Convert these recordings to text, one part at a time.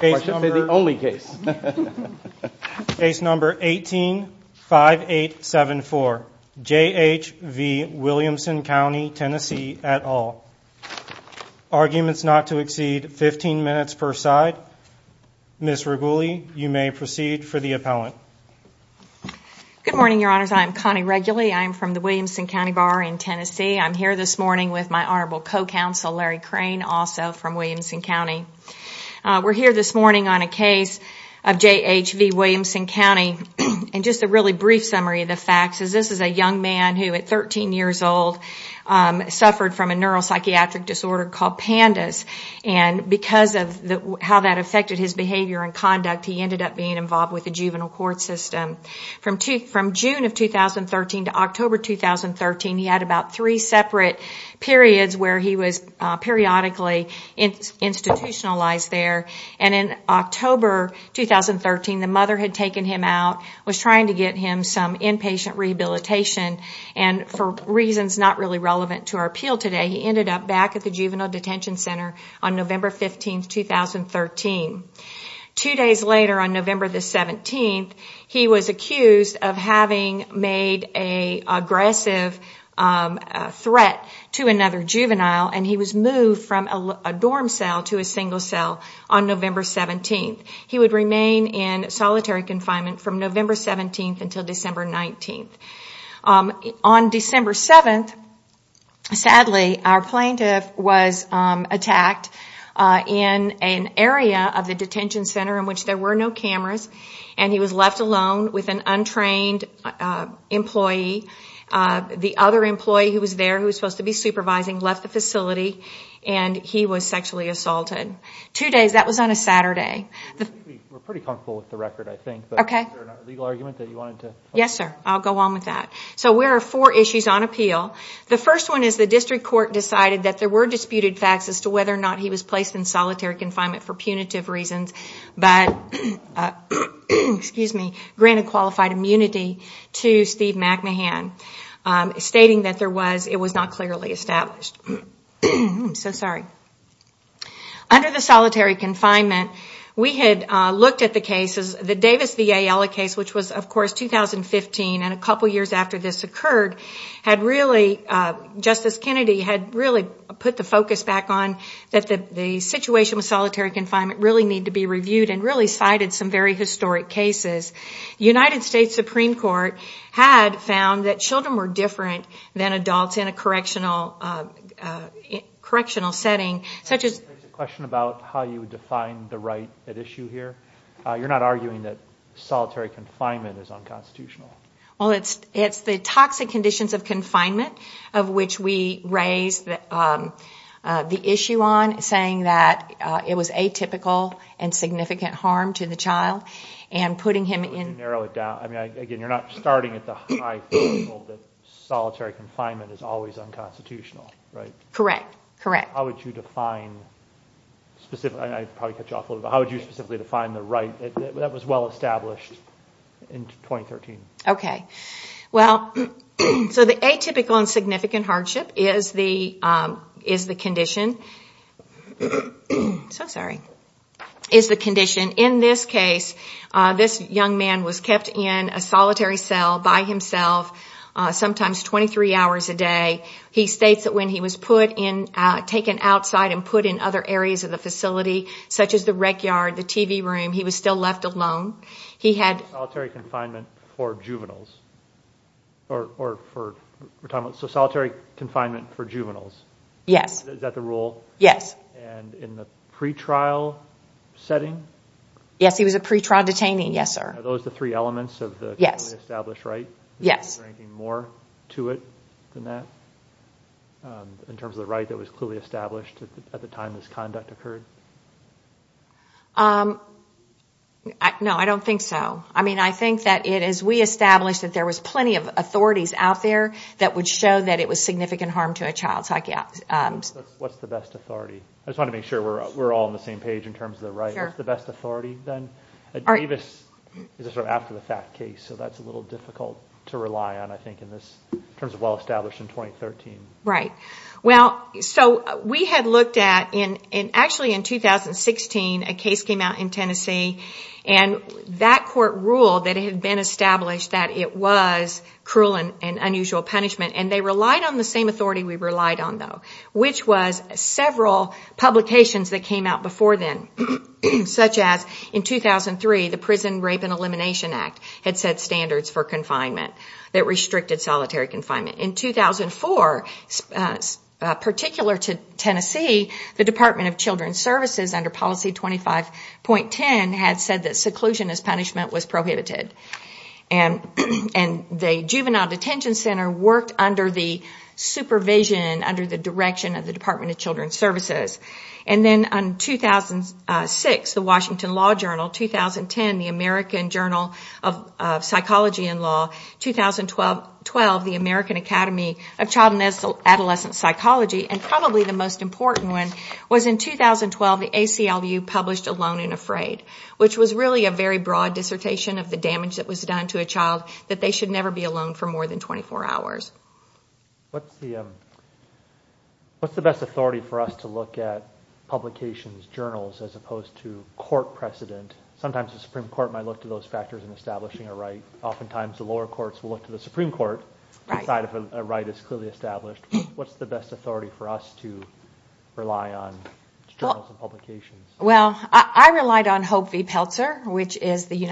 I should say the only case. Case number 185874 J.H.V. Williamson County Tennessee et al. Arguments not to exceed 15 minutes per side. Ms. Reguli, you may proceed for the appellant. Good morning, your honors. I'm Connie Reguli. I'm from the Williamson County Bar in Tennessee. I'm here this morning with my honorable co-counsel Larry Crane also from Williamson County. We're here this morning on a case of J.H.V. Williamson County and just a really brief summary of the facts. This is a young man who at 13 years old suffered from a neuropsychiatric disorder called PANDAS and because of how that affected his behavior and conduct he ended up being involved with the juvenile court system. From June of 2013 to periodically institutionalized there and in October 2013 the mother had taken him out was trying to get him some inpatient rehabilitation and for reasons not really relevant to our appeal today he ended up back at the juvenile detention center on November 15, 2013. Two days later on November the 17th he was accused of having made a aggressive threat to another juvenile and he was moved from a dorm cell to a single cell on November 17th. He would remain in solitary confinement from November 17th until December 19th. On December 7th sadly our plaintiff was attacked in an area of the detention center in which there were no cameras and he was left alone with an untrained employee. The other employee who was there who was supposed to be supervising left the facility and he was sexually assaulted. Two days, that was on a Saturday. Yes sir I'll go on with that. So where are four issues on appeal. The first one is the district court decided that there were disputed facts as to whether or not he was placed in solitary confinement for punitive reasons but granted qualified immunity to Steve McMahon stating that there was it was not clearly established. I'm so sorry. Under the solitary confinement we had looked at the cases the Davis VA Ella case which was of course 2015 and a couple years after this occurred had really Justice Kennedy had really put the focus back on that the situation was solitary confinement really need to be reviewed and really cited some very historic cases. United States Supreme Court had found that children were different than adults in a correctional correctional setting such as. Question about how you define the right at issue here you're not arguing that solitary confinement is unconstitutional. Well it's it's the toxic conditions of confinement of which we raised that the issue on saying that it was atypical and significant harm to the child and you're not starting at the high level that solitary confinement is always unconstitutional right? Correct correct. How would you define specific I probably cut you off a little bit. How would you specifically define the right that was well established in 2013? Okay well so the atypical and significant hardship is the is the condition so sorry is the condition in this case this young man was kept in a solitary cell by himself sometimes 23 hours a day he states that when he was put in taken outside and put in other areas of the facility such as the rec yard the TV room he was still left alone he had. Solitary confinement for juveniles or for retirement so solitary confinement for juveniles? Yes. Is that the rule? Yes. And in the pre-trial setting? Yes he was a pre-trial detaining yes sir. Are those the three elements of the yes established right? Yes. Is there anything more to it than that in terms of the right that was clearly established at the time this conduct occurred? No I don't think so I mean I think that it is we established that there was plenty of authorities out there that would show that it was significant harm to a child. What's the best authority? I just want to make sure we're all on the same page in terms of right the best authority then? Davis is a sort of after-the-fact case so that's a little difficult to rely on I think in this terms of well established in 2013. Right well so we had looked at in and actually in 2016 a case came out in Tennessee and that court ruled that it had been established that it was cruel and unusual punishment and they relied on the same authority we relied on which was several publications that came out before then such as in 2003 the Prison Rape and Elimination Act had set standards for confinement that restricted solitary confinement. In 2004 particular to Tennessee the Department of Children's Services under policy 25.10 had said that seclusion as punishment was prohibited and and the juvenile detention center worked under the supervision under the direction of the Department of Children's Services and then on 2006 the Washington Law Journal, 2010 the American Journal of Psychology and Law, 2012 the American Academy of Child and Adolescent Psychology and probably the most important one was in 2012 the ACLU published Alone and Afraid which was really a very broad dissertation of the damage that was done to a child that they should never be alone for more than 24 hours. What's the best authority for us to look at publications, journals as opposed to court precedent? Sometimes the Supreme Court might look to those factors in establishing a right. Oftentimes the lower courts will look to the Supreme Court to decide if a right is clearly established. What's the best authority for us to rely on? Well I relied on Hope v. Pelzer which is the one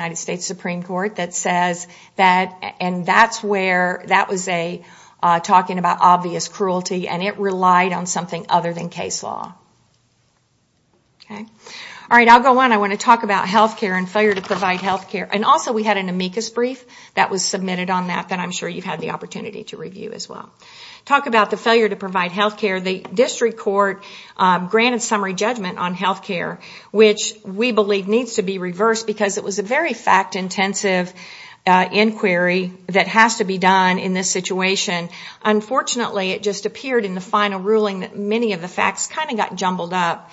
that was talking about obvious cruelty and it relied on something other than case law. I want to talk about health care and failure to provide health care. Also we had an amicus brief that was submitted on that that I'm sure you've had the opportunity to review as well. Talk about the failure to provide health care. The district court granted summary judgment on health care which we believe needs to be reversed because it was a very fact intensive inquiry that has to be done in this situation. Unfortunately it just appeared in the final ruling that many of the facts kind of got jumbled up.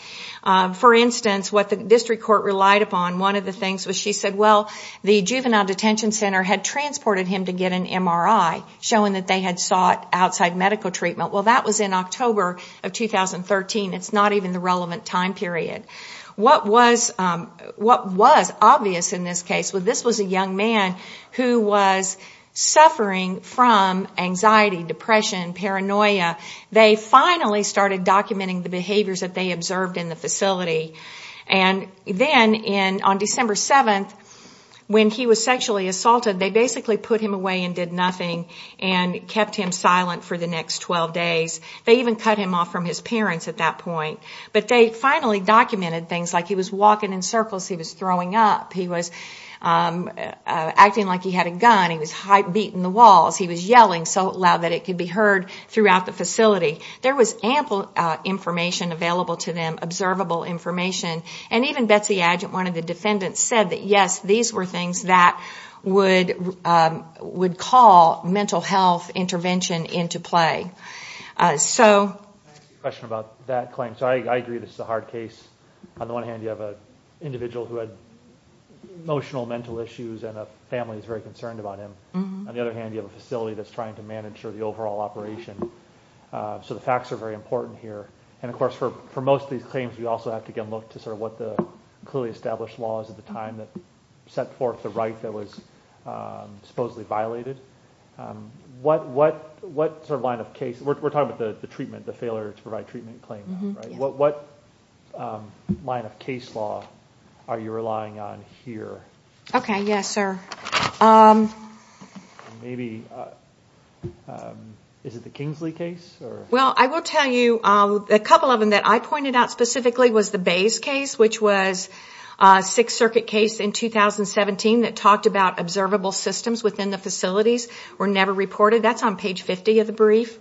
For instance what the district court relied upon, one of the things was she said well the juvenile detention center had transported him to get an MRI showing that they had sought outside medical treatment. Well that was in October of 2013. It's not even the relevant time period. What was obvious in this case was this was a young man who was suffering from anxiety, depression, paranoia. They finally started documenting the behaviors that they observed in the facility. Then on December 7th when he was sexually assaulted they basically put him away and did nothing and kept him silent for the next 12 days. They even cut him off from his parents at that point. But they finally documented things like he was acting like he had a gun, he was beating the walls, he was yelling so loud that it could be heard throughout the facility. There was ample information available to them, observable information. Even Betsy Adjunt, one of the defendants, said that yes these were things that would call mental health intervention into play. I agree this is a hard case. On the one hand you have an individual who had emotional mental issues and a family is very concerned about him. On the other hand you have a facility that's trying to manage the overall operation. So the facts are very important here. And of course for most of these claims we also have to get a look to sort of what the clearly established laws at the time that set forth the right that was supposedly violated. What sort of line of case, we're talking about the treatment, the failure to provide treatment claim. What line of case law are you relying on here? Okay yes sir. Maybe is it the Kingsley case? Well I will tell you a couple of them that I pointed out specifically was the Bays case which was a Sixth Circuit case in 2017 that talked about observable systems within the facilities were never reported. That's on page 50 of the brief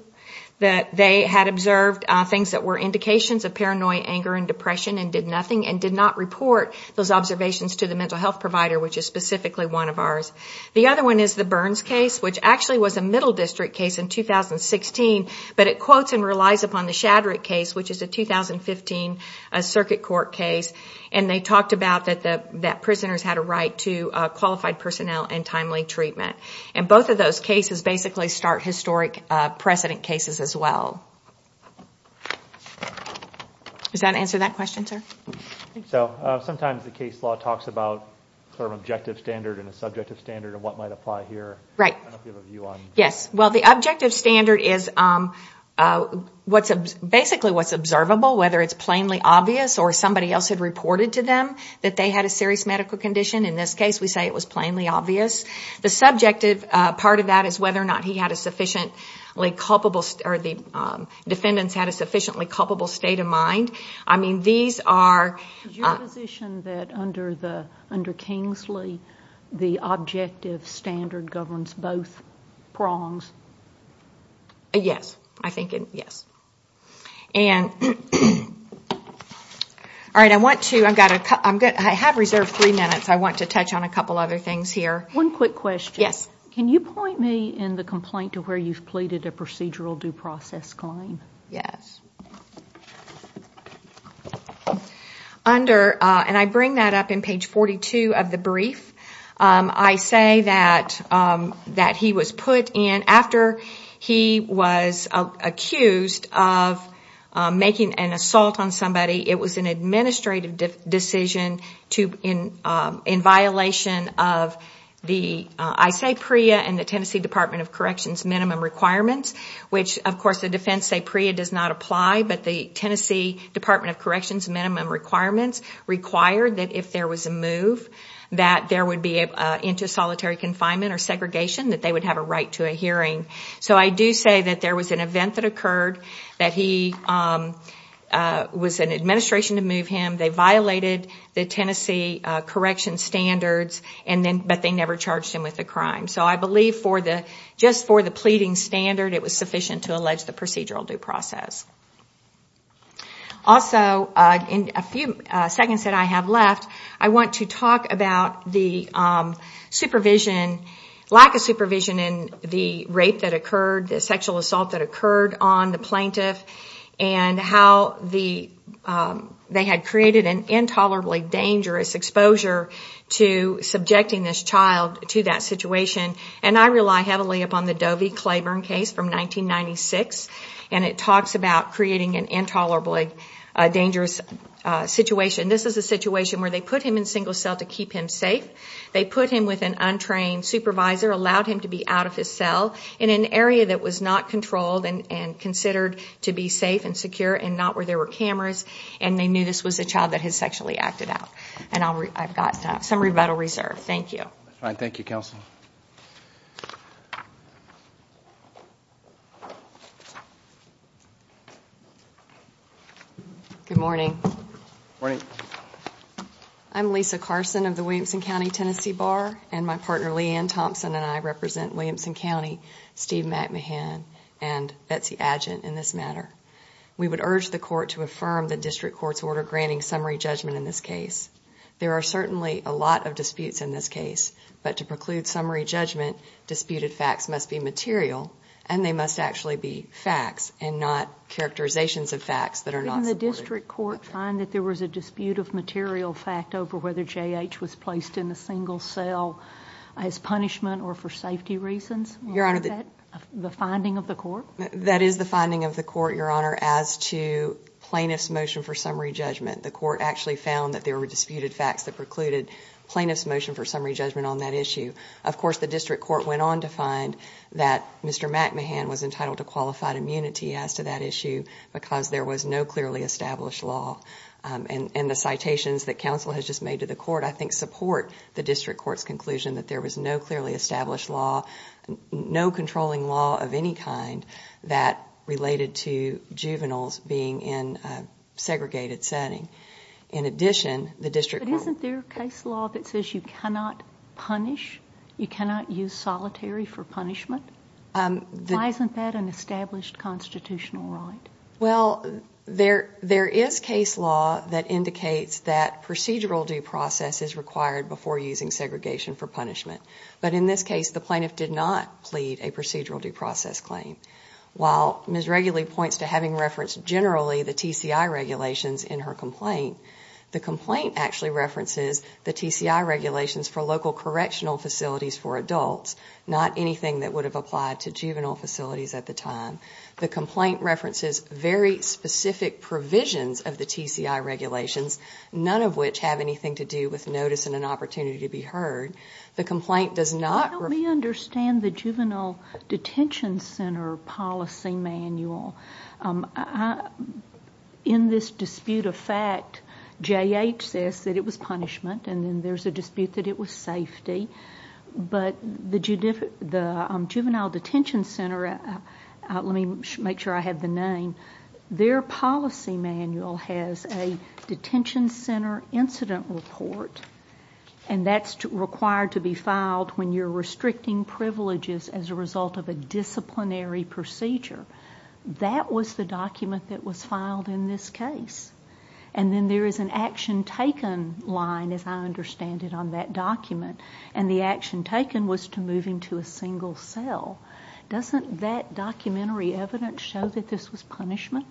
that they had observed things that were indications of paranoia, anger, and depression and did nothing and did not report those observations to the mental health provider which is specifically one of ours. The other one is the Burns case which actually was a Middle District case in 2016 but it quotes and relies upon the Shadrick case which is a 2015 Circuit Court case and they talked about that the that prisoners had a right to qualified personnel and timely treatment. And both of those cases basically start historic precedent cases as well. Does that answer that question sir? So sometimes the case law talks about sort of objective standard and a subjective standard of what might apply here. Right. Yes well the objective standard is what's basically what's observable whether it's plainly obvious or somebody else had reported to them that they had a serious medical condition. In this case we say it was plainly obvious. The subjective part of that is whether or not he had a sufficiently culpable or the defendants had a sufficiently culpable state of mind. I mean these are... Is your position that under Kingsley the objective standard governs both prongs? Yes I think it yes. And all right I want to I've got a I'm good I have reserved three minutes I want to touch on a couple other things here. One quick question. Yes. Can you point me in the complaint to where you've pleaded a procedural due process claim? Yes. Under and I bring that up in page 42 of the brief I say that that he was put in after he was accused of making an assault on somebody it was an Tennessee Department of Corrections minimum requirements which of course the defense say PREA does not apply but the Tennessee Department of Corrections minimum requirements required that if there was a move that there would be into solitary confinement or segregation that they would have a right to a hearing. So I do say that there was an event that occurred that he was an administration to move him they violated the Tennessee correction standards and then but they never charged him with the crime. So I believe for the just for the pleading standard it was sufficient to allege the procedural due process. Also in a few seconds that I have left I want to talk about the supervision lack of supervision in the rape that occurred the sexual assault that occurred on the plaintiff and how the they had created an intolerably dangerous exposure to subjecting this child to that situation and I rely heavily upon the Doe v. Claiborne case from 1996 and it talks about creating an intolerably dangerous situation. This is a situation where they put him in single cell to keep him safe they put him with an untrained supervisor allowed him to be out of his cell in an area that was not controlled and considered to be safe and secure and not where there were cameras and they knew this was a child that has sexually acted out and I've got some rebuttal reserved. Thank you. Thank you counsel. Good morning. I'm Lisa Carson of the Williamson County Tennessee Bar and my partner Leanne Thompson and I represent Williamson County Steve McMahon and Betsy Adjunt in this matter. We would urge the court to affirm the district court's order granting summary judgment in this case. There are certainly a lot of disputes in this case but to preclude summary judgment disputed facts must be material and they must actually be facts and not characterizations of facts that are not supported. Didn't the district court find that there was a dispute of material fact over whether JH was placed in a single cell as punishment or for safety reasons? Your honor. The finding of the court? That is the finding of the court your honor as to plaintiff's motion for summary judgment. The court actually found that there were disputed facts that precluded plaintiff's motion for summary judgment on that issue. Of course the district court went on to find that Mr. McMahon was entitled to qualified immunity as to that issue because there was no clearly established law and the citations that counsel has just made to the court I think support the district court's conclusion that there was no clearly being in segregated setting. In addition, the district court... But isn't there a case law that says you cannot punish? You cannot use solitary for punishment? Why isn't that an established constitutional right? Well, there is case law that indicates that procedural due process is required before using segregation for punishment but in this case the plaintiff did not plead a procedural due process claim. While Ms. Reguli points to having referenced generally the TCI regulations in her complaint, the complaint actually references the TCI regulations for local correctional facilities for adults, not anything that would have applied to juvenile facilities at the time. The complaint references very specific provisions of the TCI regulations, none of which have anything to do with notice and an opportunity to be heard. The complaint does not... Why don't we understand the policy manual? In this dispute of fact, J.H. says that it was punishment and then there's a dispute that it was safety, but the juvenile detention center, let me make sure I have the name, their policy manual has a detention center incident report and that's required to be filed when you're disciplinary procedure. That was the document that was filed in this case and then there is an action taken line, as I understand it, on that document and the action taken was to move him to a single cell. Doesn't that documentary evidence show that this was punishment?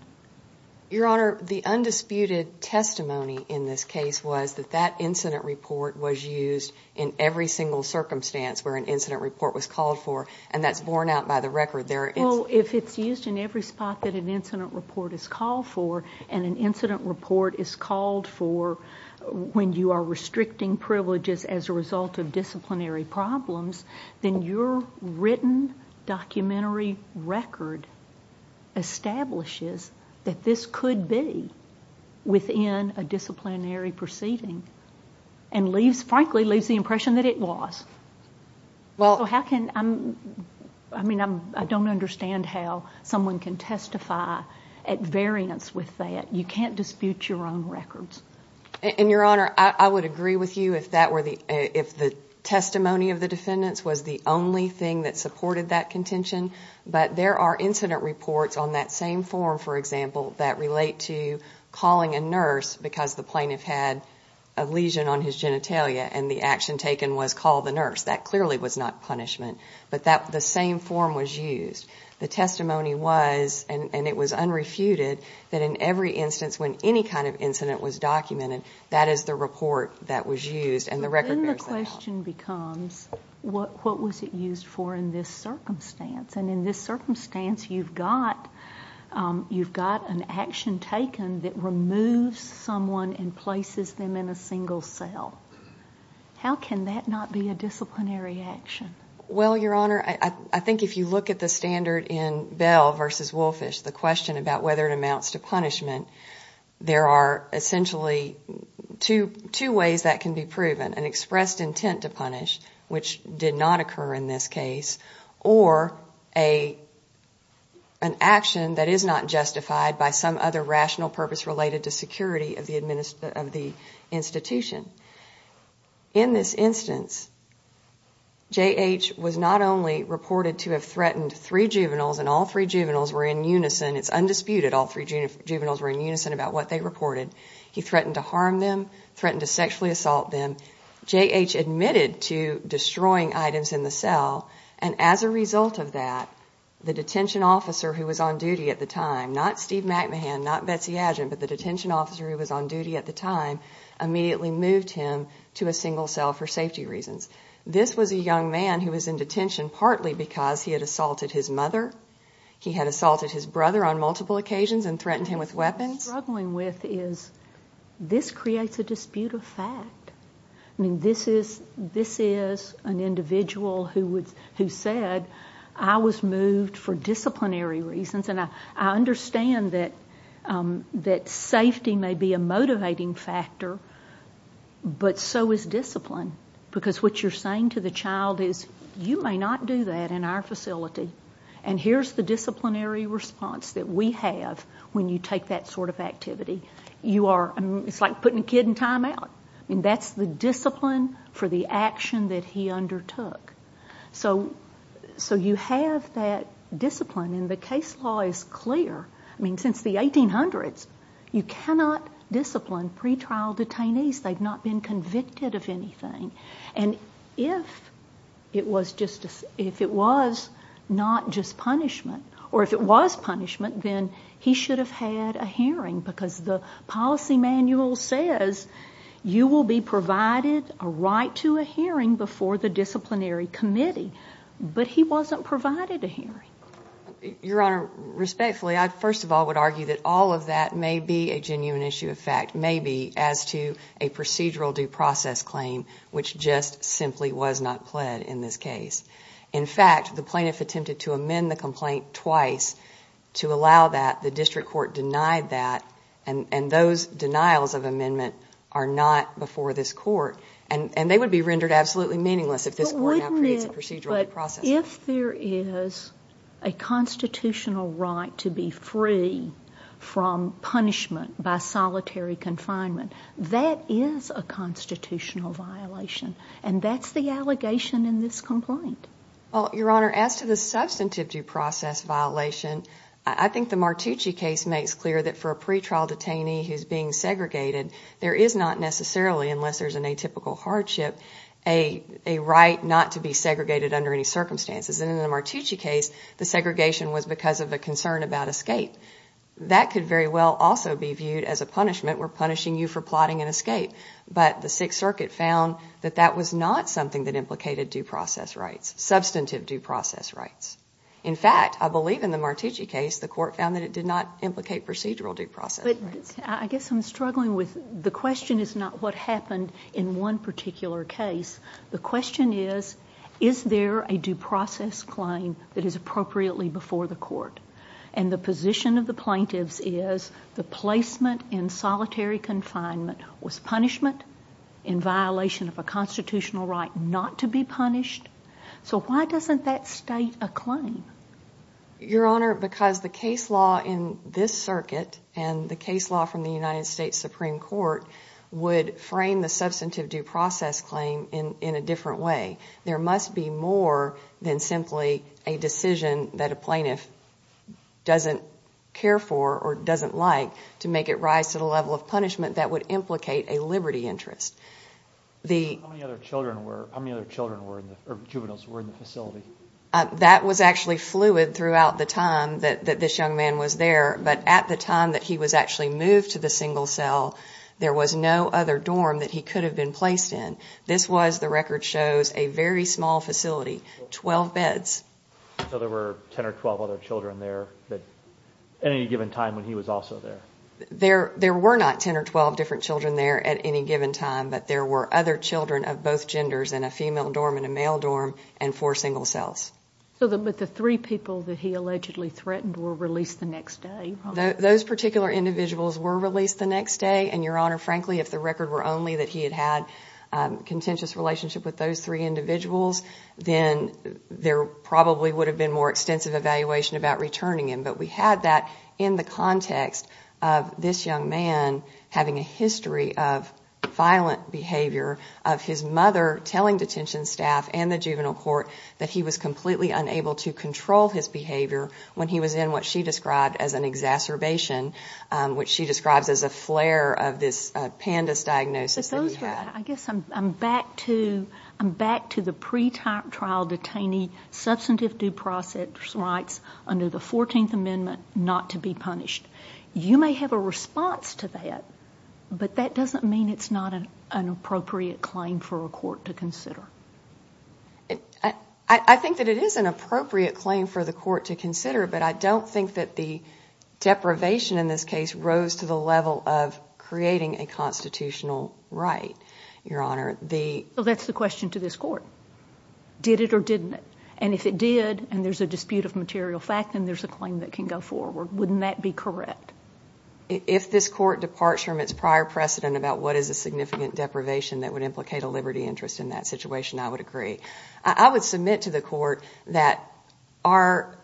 Your Honor, the undisputed testimony in this case was that that incident report was used in every single circumstance where an incident report is called for and an incident report is called for when you are restricting privileges as a result of disciplinary problems, then your written documentary record establishes that this could be within a disciplinary proceeding and leaves, frankly, leaves the impression that it was. I mean, I don't understand how someone can testify at variance with that. You can't dispute your own records. Your Honor, I would agree with you if the testimony of the defendants was the only thing that supported that contention, but there are incident reports on that same form, for example, that relate to calling a nurse because the plaintiff had a clearly was not punishment, but that the same form was used. The testimony was, and it was unrefuted, that in every instance when any kind of incident was documented, that is the report that was used and the record bears that out. Then the question becomes, what was it used for in this circumstance? And in this circumstance, you've got an action taken that removes someone and that's a disciplinary action. Well, Your Honor, I think if you look at the standard in Bell versus Wolfish, the question about whether it amounts to punishment, there are essentially two ways that can be proven. An expressed intent to punish, which did not occur in this case, or an action that is not justified by some other rational purpose related to security of the institution. In this instance, J.H. was not only reported to have threatened three juveniles, and all three juveniles were in unison, it's undisputed, all three juveniles were in unison about what they reported. He threatened to harm them, threatened to sexually assault them. J.H. admitted to destroying items in the cell, and as a result of that, the detention officer who was on duty at the time, not Steve McMahon, not Betsy Agin, but the detention officer who was on duty at the time, immediately moved him to a single cell for safety reasons. This was a young man who was in detention partly because he had assaulted his mother, he had assaulted his brother on multiple occasions, and threatened him with weapons. What I'm struggling with is this creates a dispute of fact. I mean, this is an individual who said, I was moved for disciplinary reasons, and I factor, but so is discipline. Because what you're saying to the child is, you may not do that in our facility, and here's the disciplinary response that we have when you take that sort of activity. You are, it's like putting a kid in time out. I mean, that's the discipline for the action that he undertook. So you have that discipline, and the case law is clear. I mean, since the 1800s, you cannot discipline pretrial detainees. They've not been convicted of anything, and if it was just, if it was not just punishment, or if it was punishment, then he should have had a hearing, because the policy manual says you will be provided a right to a hearing before the disciplinary committee, but he wasn't provided a hearing. Your Honor, respectfully, I first of all would argue that all of that may be a genuine issue of fact, maybe, as to a procedural due process claim, which just simply was not pled in this case. In fact, the plaintiff attempted to amend the complaint twice to allow that. The district court denied that, and those denials of amendment are not before this court, and they would be rendered absolutely meaningless if this court now creates a procedural due process. But if there is a solitary confinement, that is a constitutional violation, and that's the allegation in this complaint. Well, Your Honor, as to the substantive due process violation, I think the Martucci case makes clear that for a pretrial detainee who's being segregated, there is not necessarily, unless there's an atypical hardship, a right not to be segregated under any circumstances. And in the Martucci case, the segregation was because of a concern about escape. That could very well also be viewed as a punishment. We're punishing you for plotting an escape. But the Sixth Circuit found that that was not something that implicated due process rights, substantive due process rights. In fact, I believe in the Martucci case, the court found that it did not implicate procedural due process. But I guess I'm struggling with the question is not what happened in one particular case. The question is, is there a due process claim that is appropriately before the court? And the position of the plaintiffs is the placement in solitary confinement was punishment in violation of a constitutional right not to be punished. So why doesn't that state a claim? Your Honor, because the case law in this circuit and the case law from the United States Supreme Court would frame the substantive due process claim in a different way. There must be more than simply a decision that a plaintiff doesn't care for or doesn't like to make it rise to the level of punishment that would implicate a liberty interest. How many other children were in the facility? That was actually fluid throughout the time that this young man was there. But at the time that he was actually moved to the single cell, there was no other dorm that he could have been placed in. This was the record shows a very small facility, 12 beds. So there were 10 or 12 other children there at any given time when he was also there? There were not 10 or 12 different children there at any given time, but there were other children of both genders in a female dorm and a male dorm and four single cells. So the three people that he allegedly threatened were released the next day? Those particular individuals were released the next day and, Your Honor, frankly if the record were only that he had had a contentious relationship with those three individuals, then there probably would have been more extensive evaluation about returning him. But we had that in the context of this young man having a history of violent behavior, of his mother telling detention staff and the juvenile court that he was completely unable to control his behavior when he was in what she described as an exacerbation, which she I'm back to the pretrial detainee substantive due process rights under the 14th Amendment not to be punished. You may have a response to that, but that doesn't mean it's not an appropriate claim for a court to consider. I think that it is an appropriate claim for the court to consider, but I don't think that the deprivation in this case rose to the level of creating a constitutional right, Your Honor. That's the question to this court. Did it or didn't it? And if it did and there's a dispute of material fact, then there's a claim that can go forward. Wouldn't that be correct? If this court departs from its prior precedent about what is a significant deprivation that would implicate a liberty interest in that situation, I would agree. I would submit to the court that our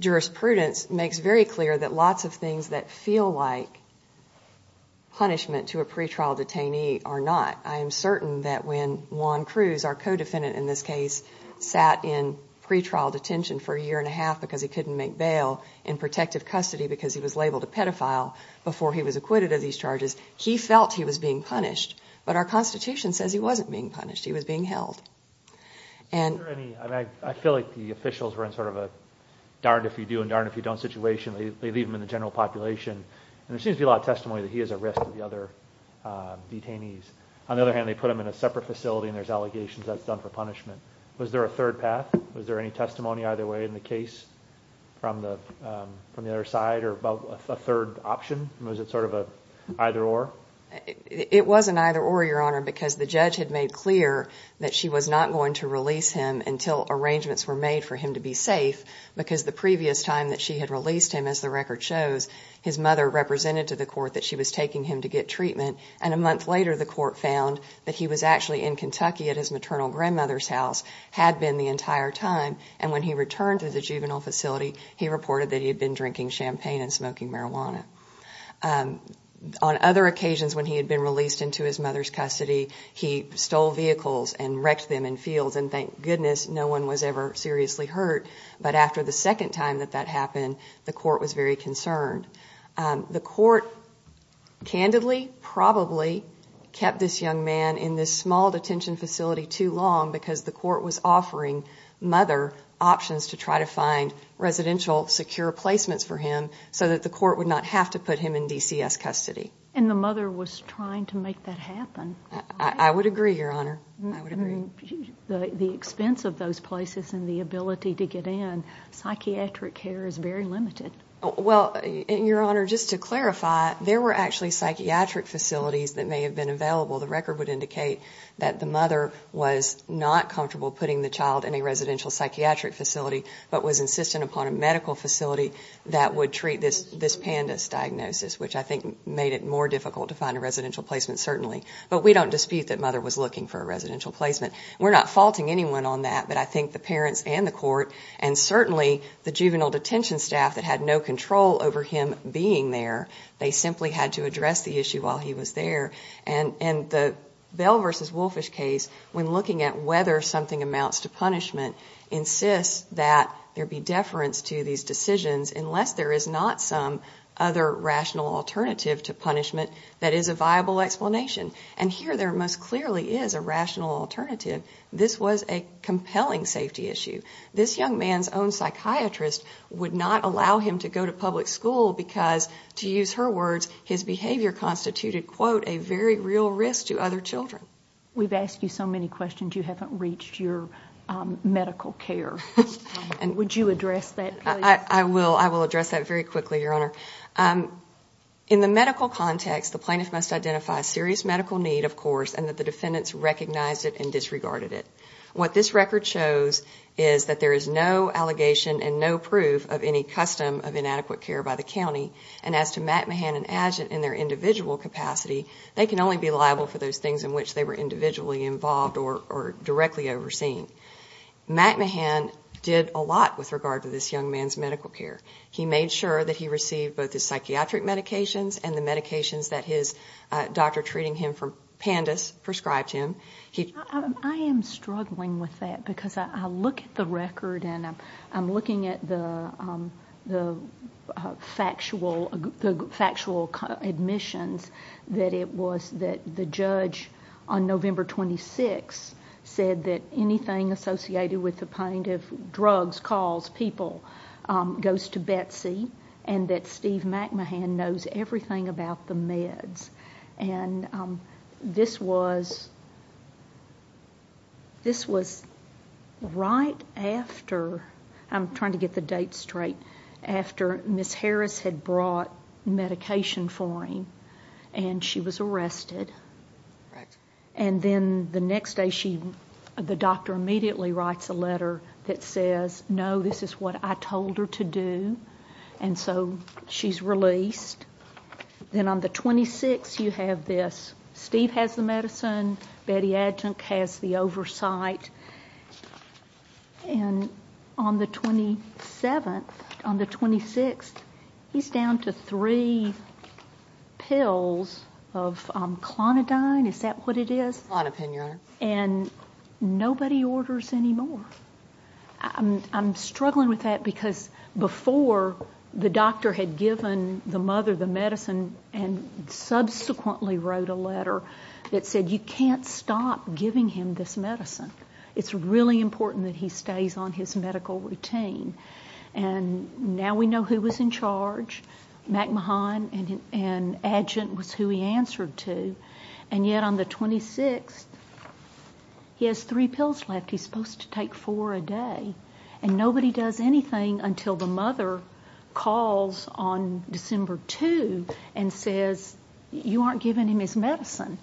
jurisprudence makes very clear that lots of things that feel like punishment to a I am certain that when Juan Cruz, our co-defendant in this case, sat in pretrial detention for a year and a half because he couldn't make bail in protective custody because he was labeled a pedophile before he was acquitted of these charges, he felt he was being punished. But our Constitution says he wasn't being punished. He was being held. I feel like the officials were in sort of a darn if you do and darn if you don't situation. They leave him in the general population and there seems to be a lot of testimony that he is a risk to the other detainees. On the other hand, they put him in a separate facility and there's allegations that's done for punishment. Was there a third path? Was there any testimony either way in the case from the from the other side or about a third option? Was it sort of a either-or? It was an either-or, Your Honor, because the judge had made clear that she was not going to release him until arrangements were made for him to be safe because the previous time that she had released him, as the record shows, his mother represented to the court that she was taking him to get treatment and a month later the court found that he was actually in Kentucky at his maternal grandmother's house, had been the entire time, and when he returned to the juvenile facility, he reported that he had been drinking champagne and smoking marijuana. On other occasions when he had been released into his mother's custody, he stole vehicles and wrecked them in fields and thank goodness no one was ever seriously hurt. But after the second time that that happened, the court was very concerned. The court candidly probably kept this young man in this small detention facility too long because the court was offering mother options to try to find residential secure placements for him so that the court would not have to put him in DCS custody. And the mother was trying to make that happen? I would agree, Your Honor, psychiatric care is very limited. Well, Your Honor, just to clarify, there were actually psychiatric facilities that may have been available. The record would indicate that the mother was not comfortable putting the child in a residential psychiatric facility, but was insistent upon a medical facility that would treat this this pandas diagnosis, which I think made it more difficult to find a residential placement certainly. But we don't dispute that mother was looking for a residential placement. We're not faulting anyone on that, but I certainly, the juvenile detention staff that had no control over him being there, they simply had to address the issue while he was there. And the Bell v. Wolfish case, when looking at whether something amounts to punishment, insists that there be deference to these decisions unless there is not some other rational alternative to punishment that is a viable explanation. And here there most clearly is a rational alternative. This was a compelling safety issue. This young man's own psychiatrist would not allow him to go to public school because, to use her words, his behavior constituted, quote, a very real risk to other children. We've asked you so many questions you haven't reached your medical care. And would you address that? I will. I will address that very quickly, Your Honor. In the medical context, the plaintiff must identify a serious medical need, of course, and that the defendants recognized it and disregarded it. What this record shows is that there is no allegation and no proof of any custom of inadequate care by the county. And as to McMahon and Adjutant in their individual capacity, they can only be liable for those things in which they were individually involved or directly overseen. McMahon did a lot with regard to this young man's medical care. He made sure that he received both his psychiatric medications and the medications that his doctor treating him for pandas prescribed him. I am struggling with that because I look at the record and I'm looking at the factual admissions that it was that the judge on November 26 said that anything associated with the plaintiff, drugs, calls, people, goes to Betsy and that Steve McMahon knows everything about the This was right after, I'm trying to get the date straight, after Ms. Harris had brought medication for him and she was arrested. And then the next day, the doctor immediately writes a letter that says, no, this is what I told her to do. And so she's released. Then on the 26th, you have this. Steve has the medicine, Betty Adjunct has the oversight. And on the 27th, on the 26th, he's down to three pills of clonidine, is that what it is? Clonapine, Your Honor. And nobody orders anymore. I'm struggling with that because before, the doctor had given the mother the medicine and subsequently wrote a letter that said, you can't stop giving him this medicine. It's really important that he stays on his medical routine. And now we know who was in charge. McMahon and Adjunct was who he was supposed to take four a day. And nobody does anything until the mother calls on December 2 and says, you aren't giving him his medicine.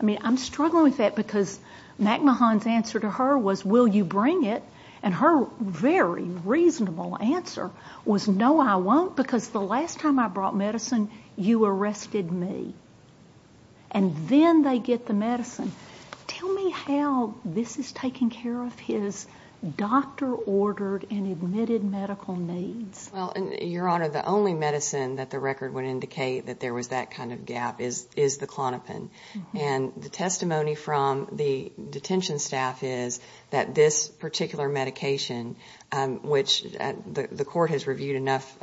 I mean, I'm struggling with that because McMahon's answer to her was, will you bring it? And her very reasonable answer was, no, I won't, because the last time I brought medicine, you arrested me. And then they get the medicine. Tell me how this is taking care of his doctor-ordered and admitted medical needs. Well, Your Honor, the only medicine that the record would indicate that there was that kind of gap is the clonapine. And the testimony from the detention staff is that this particular medication, which the court has reviewed enough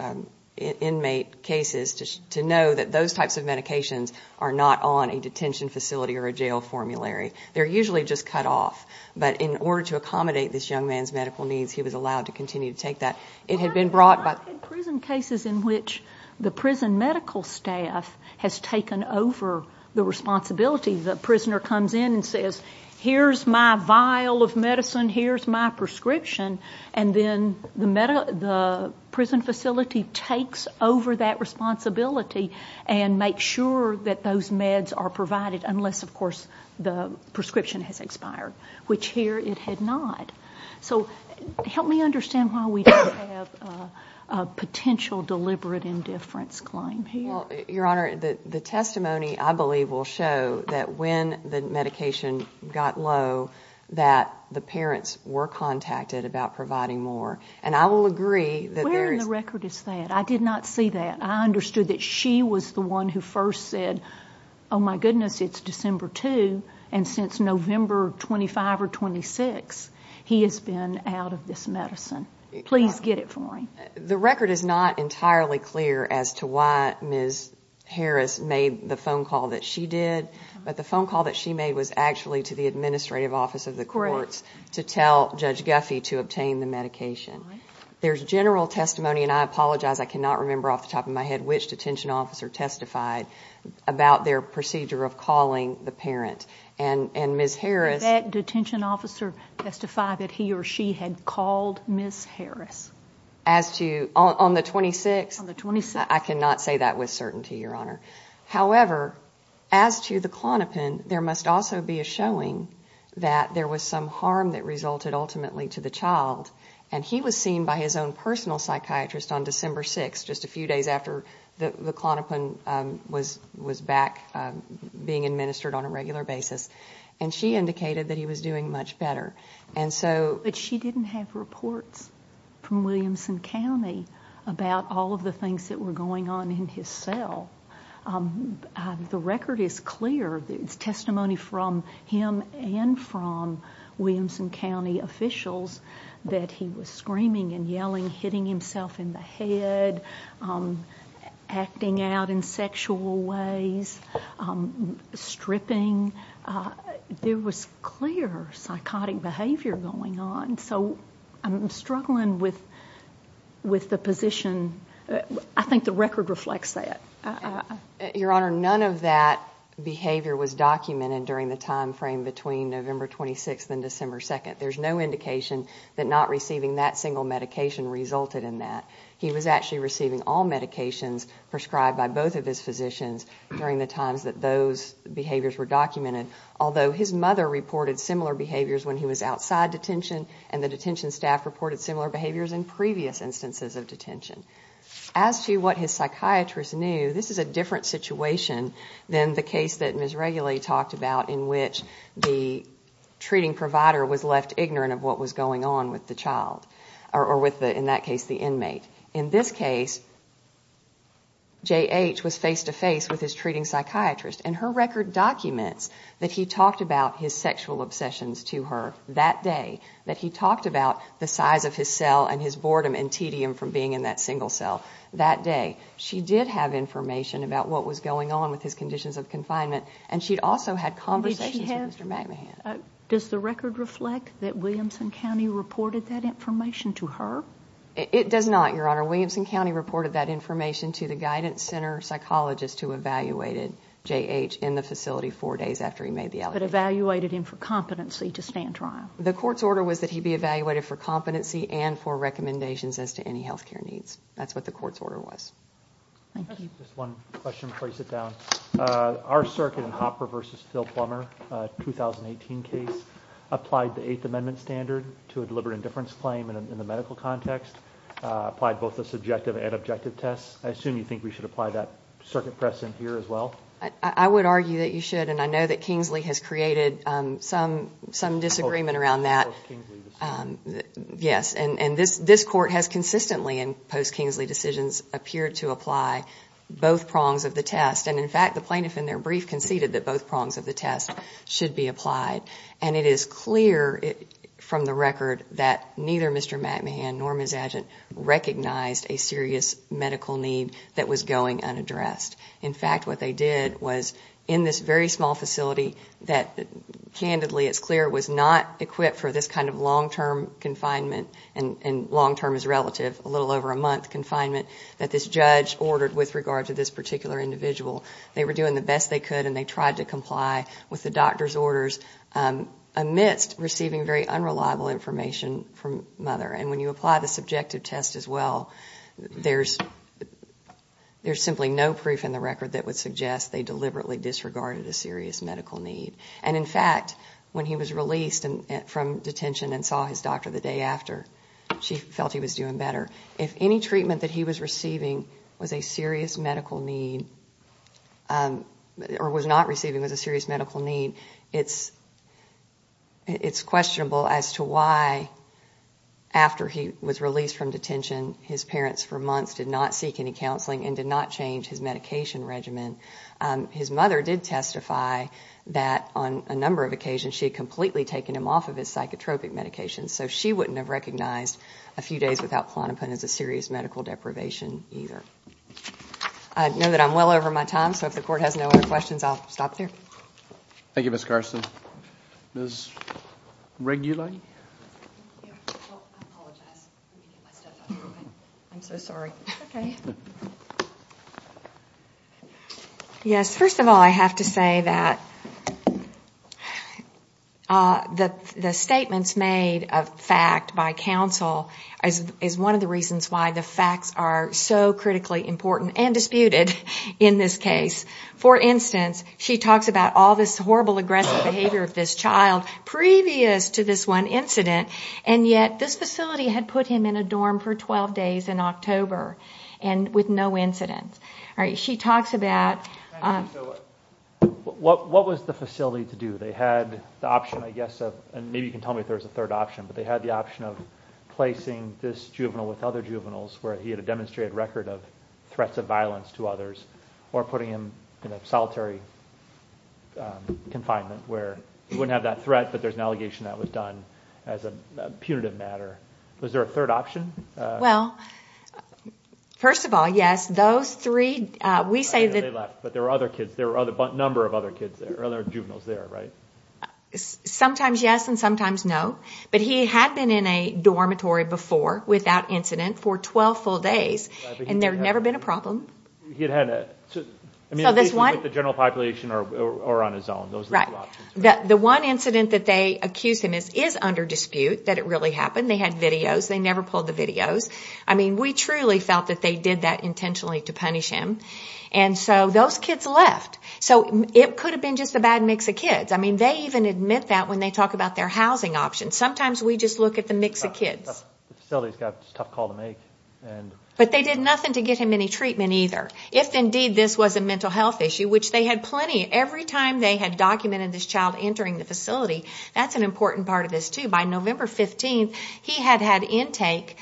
inmate cases to know that those types of medications are not on a detention facility or a jail formulary. They're usually just cut off. But in order to accommodate this young man's medical needs, he was allowed to continue to take that. It had been brought by... I've had prison cases in which the prison medical staff has taken over the responsibility. The prisoner comes in and says, here's my vial of medicine, here's my prescription. And then the prison facility takes over that the prescription has expired, which here it had not. So help me understand why we don't have a potential deliberate indifference claim here. Your Honor, the testimony, I believe, will show that when the medication got low, that the parents were contacted about providing more. And I will agree that there is... Where in the record is that? I did not see that. I believe that the court has reviewed and since November 25 or 26, he has been out of this medicine. Please get it for him. The record is not entirely clear as to why Ms. Harris made the phone call that she did. But the phone call that she made was actually to the administrative office of the courts to tell Judge Guffey to obtain the medication. There's general testimony, and I apologize, I cannot remember off the top of my head which detention officer testified about their procedure of calling the parent. And Ms. Harris... Did that detention officer testify that he or she had called Ms. Harris? As to... On the 26th? I cannot say that with certainty, Your Honor. However, as to the Klonopin, there must also be a showing that there was some harm that resulted ultimately to the child. And he was seen by his own personal psychiatrist on December 6, just a few days after the Klonopin was back being administered on a regular basis. And she indicated that he was doing much better. And so... But she didn't have reports from Williamson County about all of the things that were going on in his cell. The record is clear. There's testimony from him and from Williamson County officials that he was screaming and yelling, hitting himself in the head, acting out in sexual ways, stripping. There was clear psychotic behavior going on. So I'm struggling with the position. I think the record reflects that. Your Honor, none of that behavior was documented during the time frame between November 26th and December 2nd. There's no indication that not receiving that single medication resulted in that. He was actually receiving all medications prescribed by both of his physicians during the times that those behaviors were documented. Although his mother reported similar behaviors when he was outside detention, and the detention staff reported similar behaviors in previous instances of detention. As to what his psychiatrist knew, this is a different situation than the treating provider was left ignorant of what was going on with the child, or in that case, the inmate. In this case, J.H. was face-to-face with his treating psychiatrist, and her record documents that he talked about his sexual obsessions to her that day, that he talked about the size of his cell and his boredom and tedium from being in that single cell that day. She did have information about what was going on with his conditions of confinement, and she'd also had conversations with Mr. McMahon. Does the record reflect that Williamson County reported that information to her? It does not, Your Honor. Williamson County reported that information to the guidance center psychologist who evaluated J.H. in the facility four days after he made the allegation. But evaluated him for competency to stand trial? The court's order was that he be evaluated for competency and for recommendations as to any health care needs. That's what the court's order was. Thank you. Just one question before I sit down. Our circuit in Hopper v. Phil Plummer, a 2018 case, applied the Eighth Amendment standard to a deliberate indifference claim in the medical context, applied both the subjective and objective tests. I assume you think we should apply that circuit press in here as well? I would argue that you should, and I know that Kingsley has created some disagreement around that. Oh, a post-Kingsley decision. both prongs of the test. And in fact, the plaintiff in their brief conceded that both prongs of the test should be applied. And it is clear from the record that neither Mr. McMahon nor Ms. Adjett recognized a serious medical need that was going unaddressed. In fact, what they did was in this very small facility that candidly, it's clear, was not equipped for this kind of long-term confinement, and long-term is relative, a little over a year in confinement, that this judge ordered with regard to this particular individual. They were doing the best they could, and they tried to comply with the doctor's orders amidst receiving very unreliable information from Mother. And when you apply the subjective test as well, there's simply no proof in the record that would suggest they deliberately disregarded a serious medical need. And in fact, when he was released from detention and saw his doctor the day after, she felt he was doing better. If any treatment that he was receiving was a serious medical need or was not receiving was a serious medical need, it's questionable as to why, after he was released from detention, his parents for months did not seek any counseling and did not change his medication regimen. His mother did testify that on a number of occasions she had completely taken him off of his psychotropic medications, so she wouldn't have recognized a few days without Klonopin as a serious medical deprivation either. I know that I'm well over my time, so if the Court has no other questions, I'll stop there. Thank you, Ms. Carson. Ms. Regula? I apologize. I'm so sorry. Okay. Yes, first of all, I have to say that the statements made of fact by counsel is one of the reasons why the facts are so critically important and disputed in this case. For instance, she talks about all this horrible aggressive behavior of this child previous to this one incident, and yet this facility had put him in a dorm for 12 days in October with no incidents. She talks about... What was the facility to do? They had the option, I guess, and maybe you can tell me if there was a third option, but they had the option of placing this juvenile with other juveniles where he had a demonstrated record of threats of violence to others or putting him in a solitary confinement where he wouldn't have that threat, but there's an allegation that was done as a punitive matter. Was there a third option? Well, first of all, yes, those three, we say that... But there were other kids. There were a number of other kids there, other juveniles there, right? Sometimes yes and sometimes no, but he had been in a dormitory before without incident for 12 full days, and there had never been a problem. He had had a... So this one... The general population or on his own, those are the two options. The one incident that they accused him is under dispute that it really happened. They had videos. They never pulled the videos. I mean, we truly felt that they did that intentionally to punish him, and so those kids left. So it could have been just a bad mix of kids. I mean, they even admit that when they talk about their housing options. Sometimes we just look at the mix of kids. The facility's got a tough call to make. But they did nothing to get him any treatment either. If indeed this was a mental health issue, which they had plenty. Every time they had documented this child entering the facility, that's an important part of this too. By November 15th, he had had intake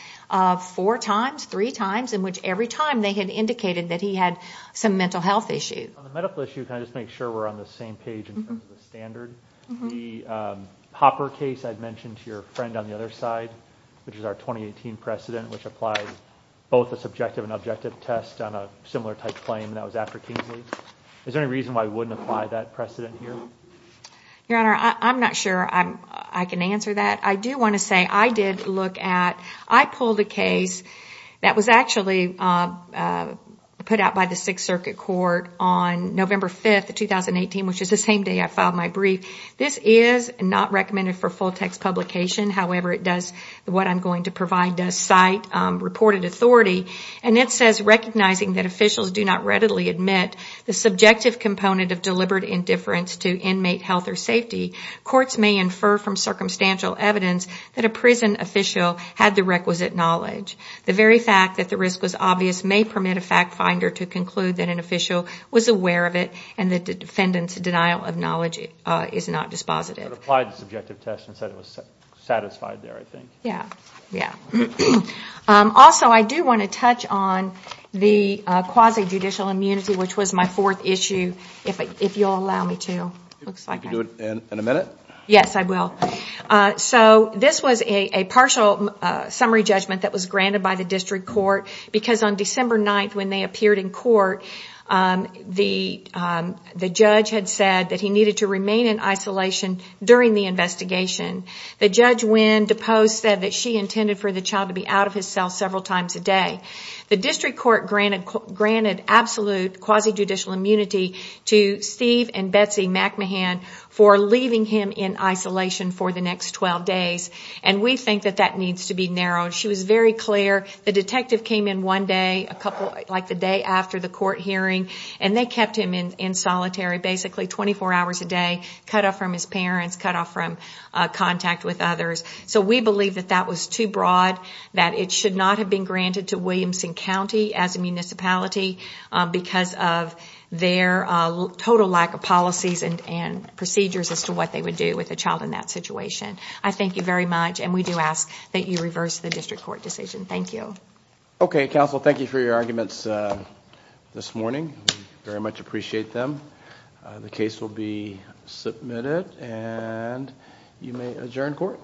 four times, three times, in which every time they had indicated that he had some mental health issues. On the medical issue, can I just make sure we're on the same page in terms of the standard? The Hopper case I'd mentioned to your friend on the other side, which is our 2018 precedent, which applied both a subjective and objective test on a similar type claim, and that was after Kingsley. Is there any reason why we wouldn't apply that precedent here? Your Honor, I'm not sure I can answer that. I do want to say I did look at, I pulled a case that was actually put out by the Sixth Circuit Court on November 5th, 2018, which is the same day I filed my brief. This is not recommended for full-text publication. However, what I'm going to provide does cite reported authority, and it says, recognizing that officials do not readily admit the subjective component of deliberate indifference to inmate health or safety, courts may infer from circumstantial evidence that a prison official had the requisite knowledge. The very fact that the risk was obvious may permit a fact finder to conclude that an official was aware of it and the defendant's denial of knowledge is not dispositive. So it applied the subjective test and said it was satisfied there, I think. Yeah, yeah. Also, I do want to touch on the quasi-judicial immunity, which was my fourth issue, if you'll allow me to. You can do it in a minute. Yes, I will. So this was a partial summary judgment that was granted by the district court, because on December 9th when they appeared in court, the judge had said that he needed to remain in isolation during the investigation. The judge, when deposed, said that she intended for the child to be out of his cell several times a day. The district court granted absolute quasi-judicial immunity to Steve and Betsy McMahon for leaving him in isolation for the next 12 days, and we think that that needs to be narrowed. She was very clear. The detective came in one day, like the day after the court hearing, and they kept him in solitary basically 24 hours a day, cut off from his parents, cut off from contact with others. So we believe that that was too broad, that it should not have been granted to Williamson County as a municipality because of their total lack of policies and procedures as to what they would do with a child in that situation. I thank you very much, and we do ask that you reverse the district court decision. Thank you. Okay, counsel, thank you for your arguments this morning. We very much appreciate them. The case will be submitted, and you may adjourn court.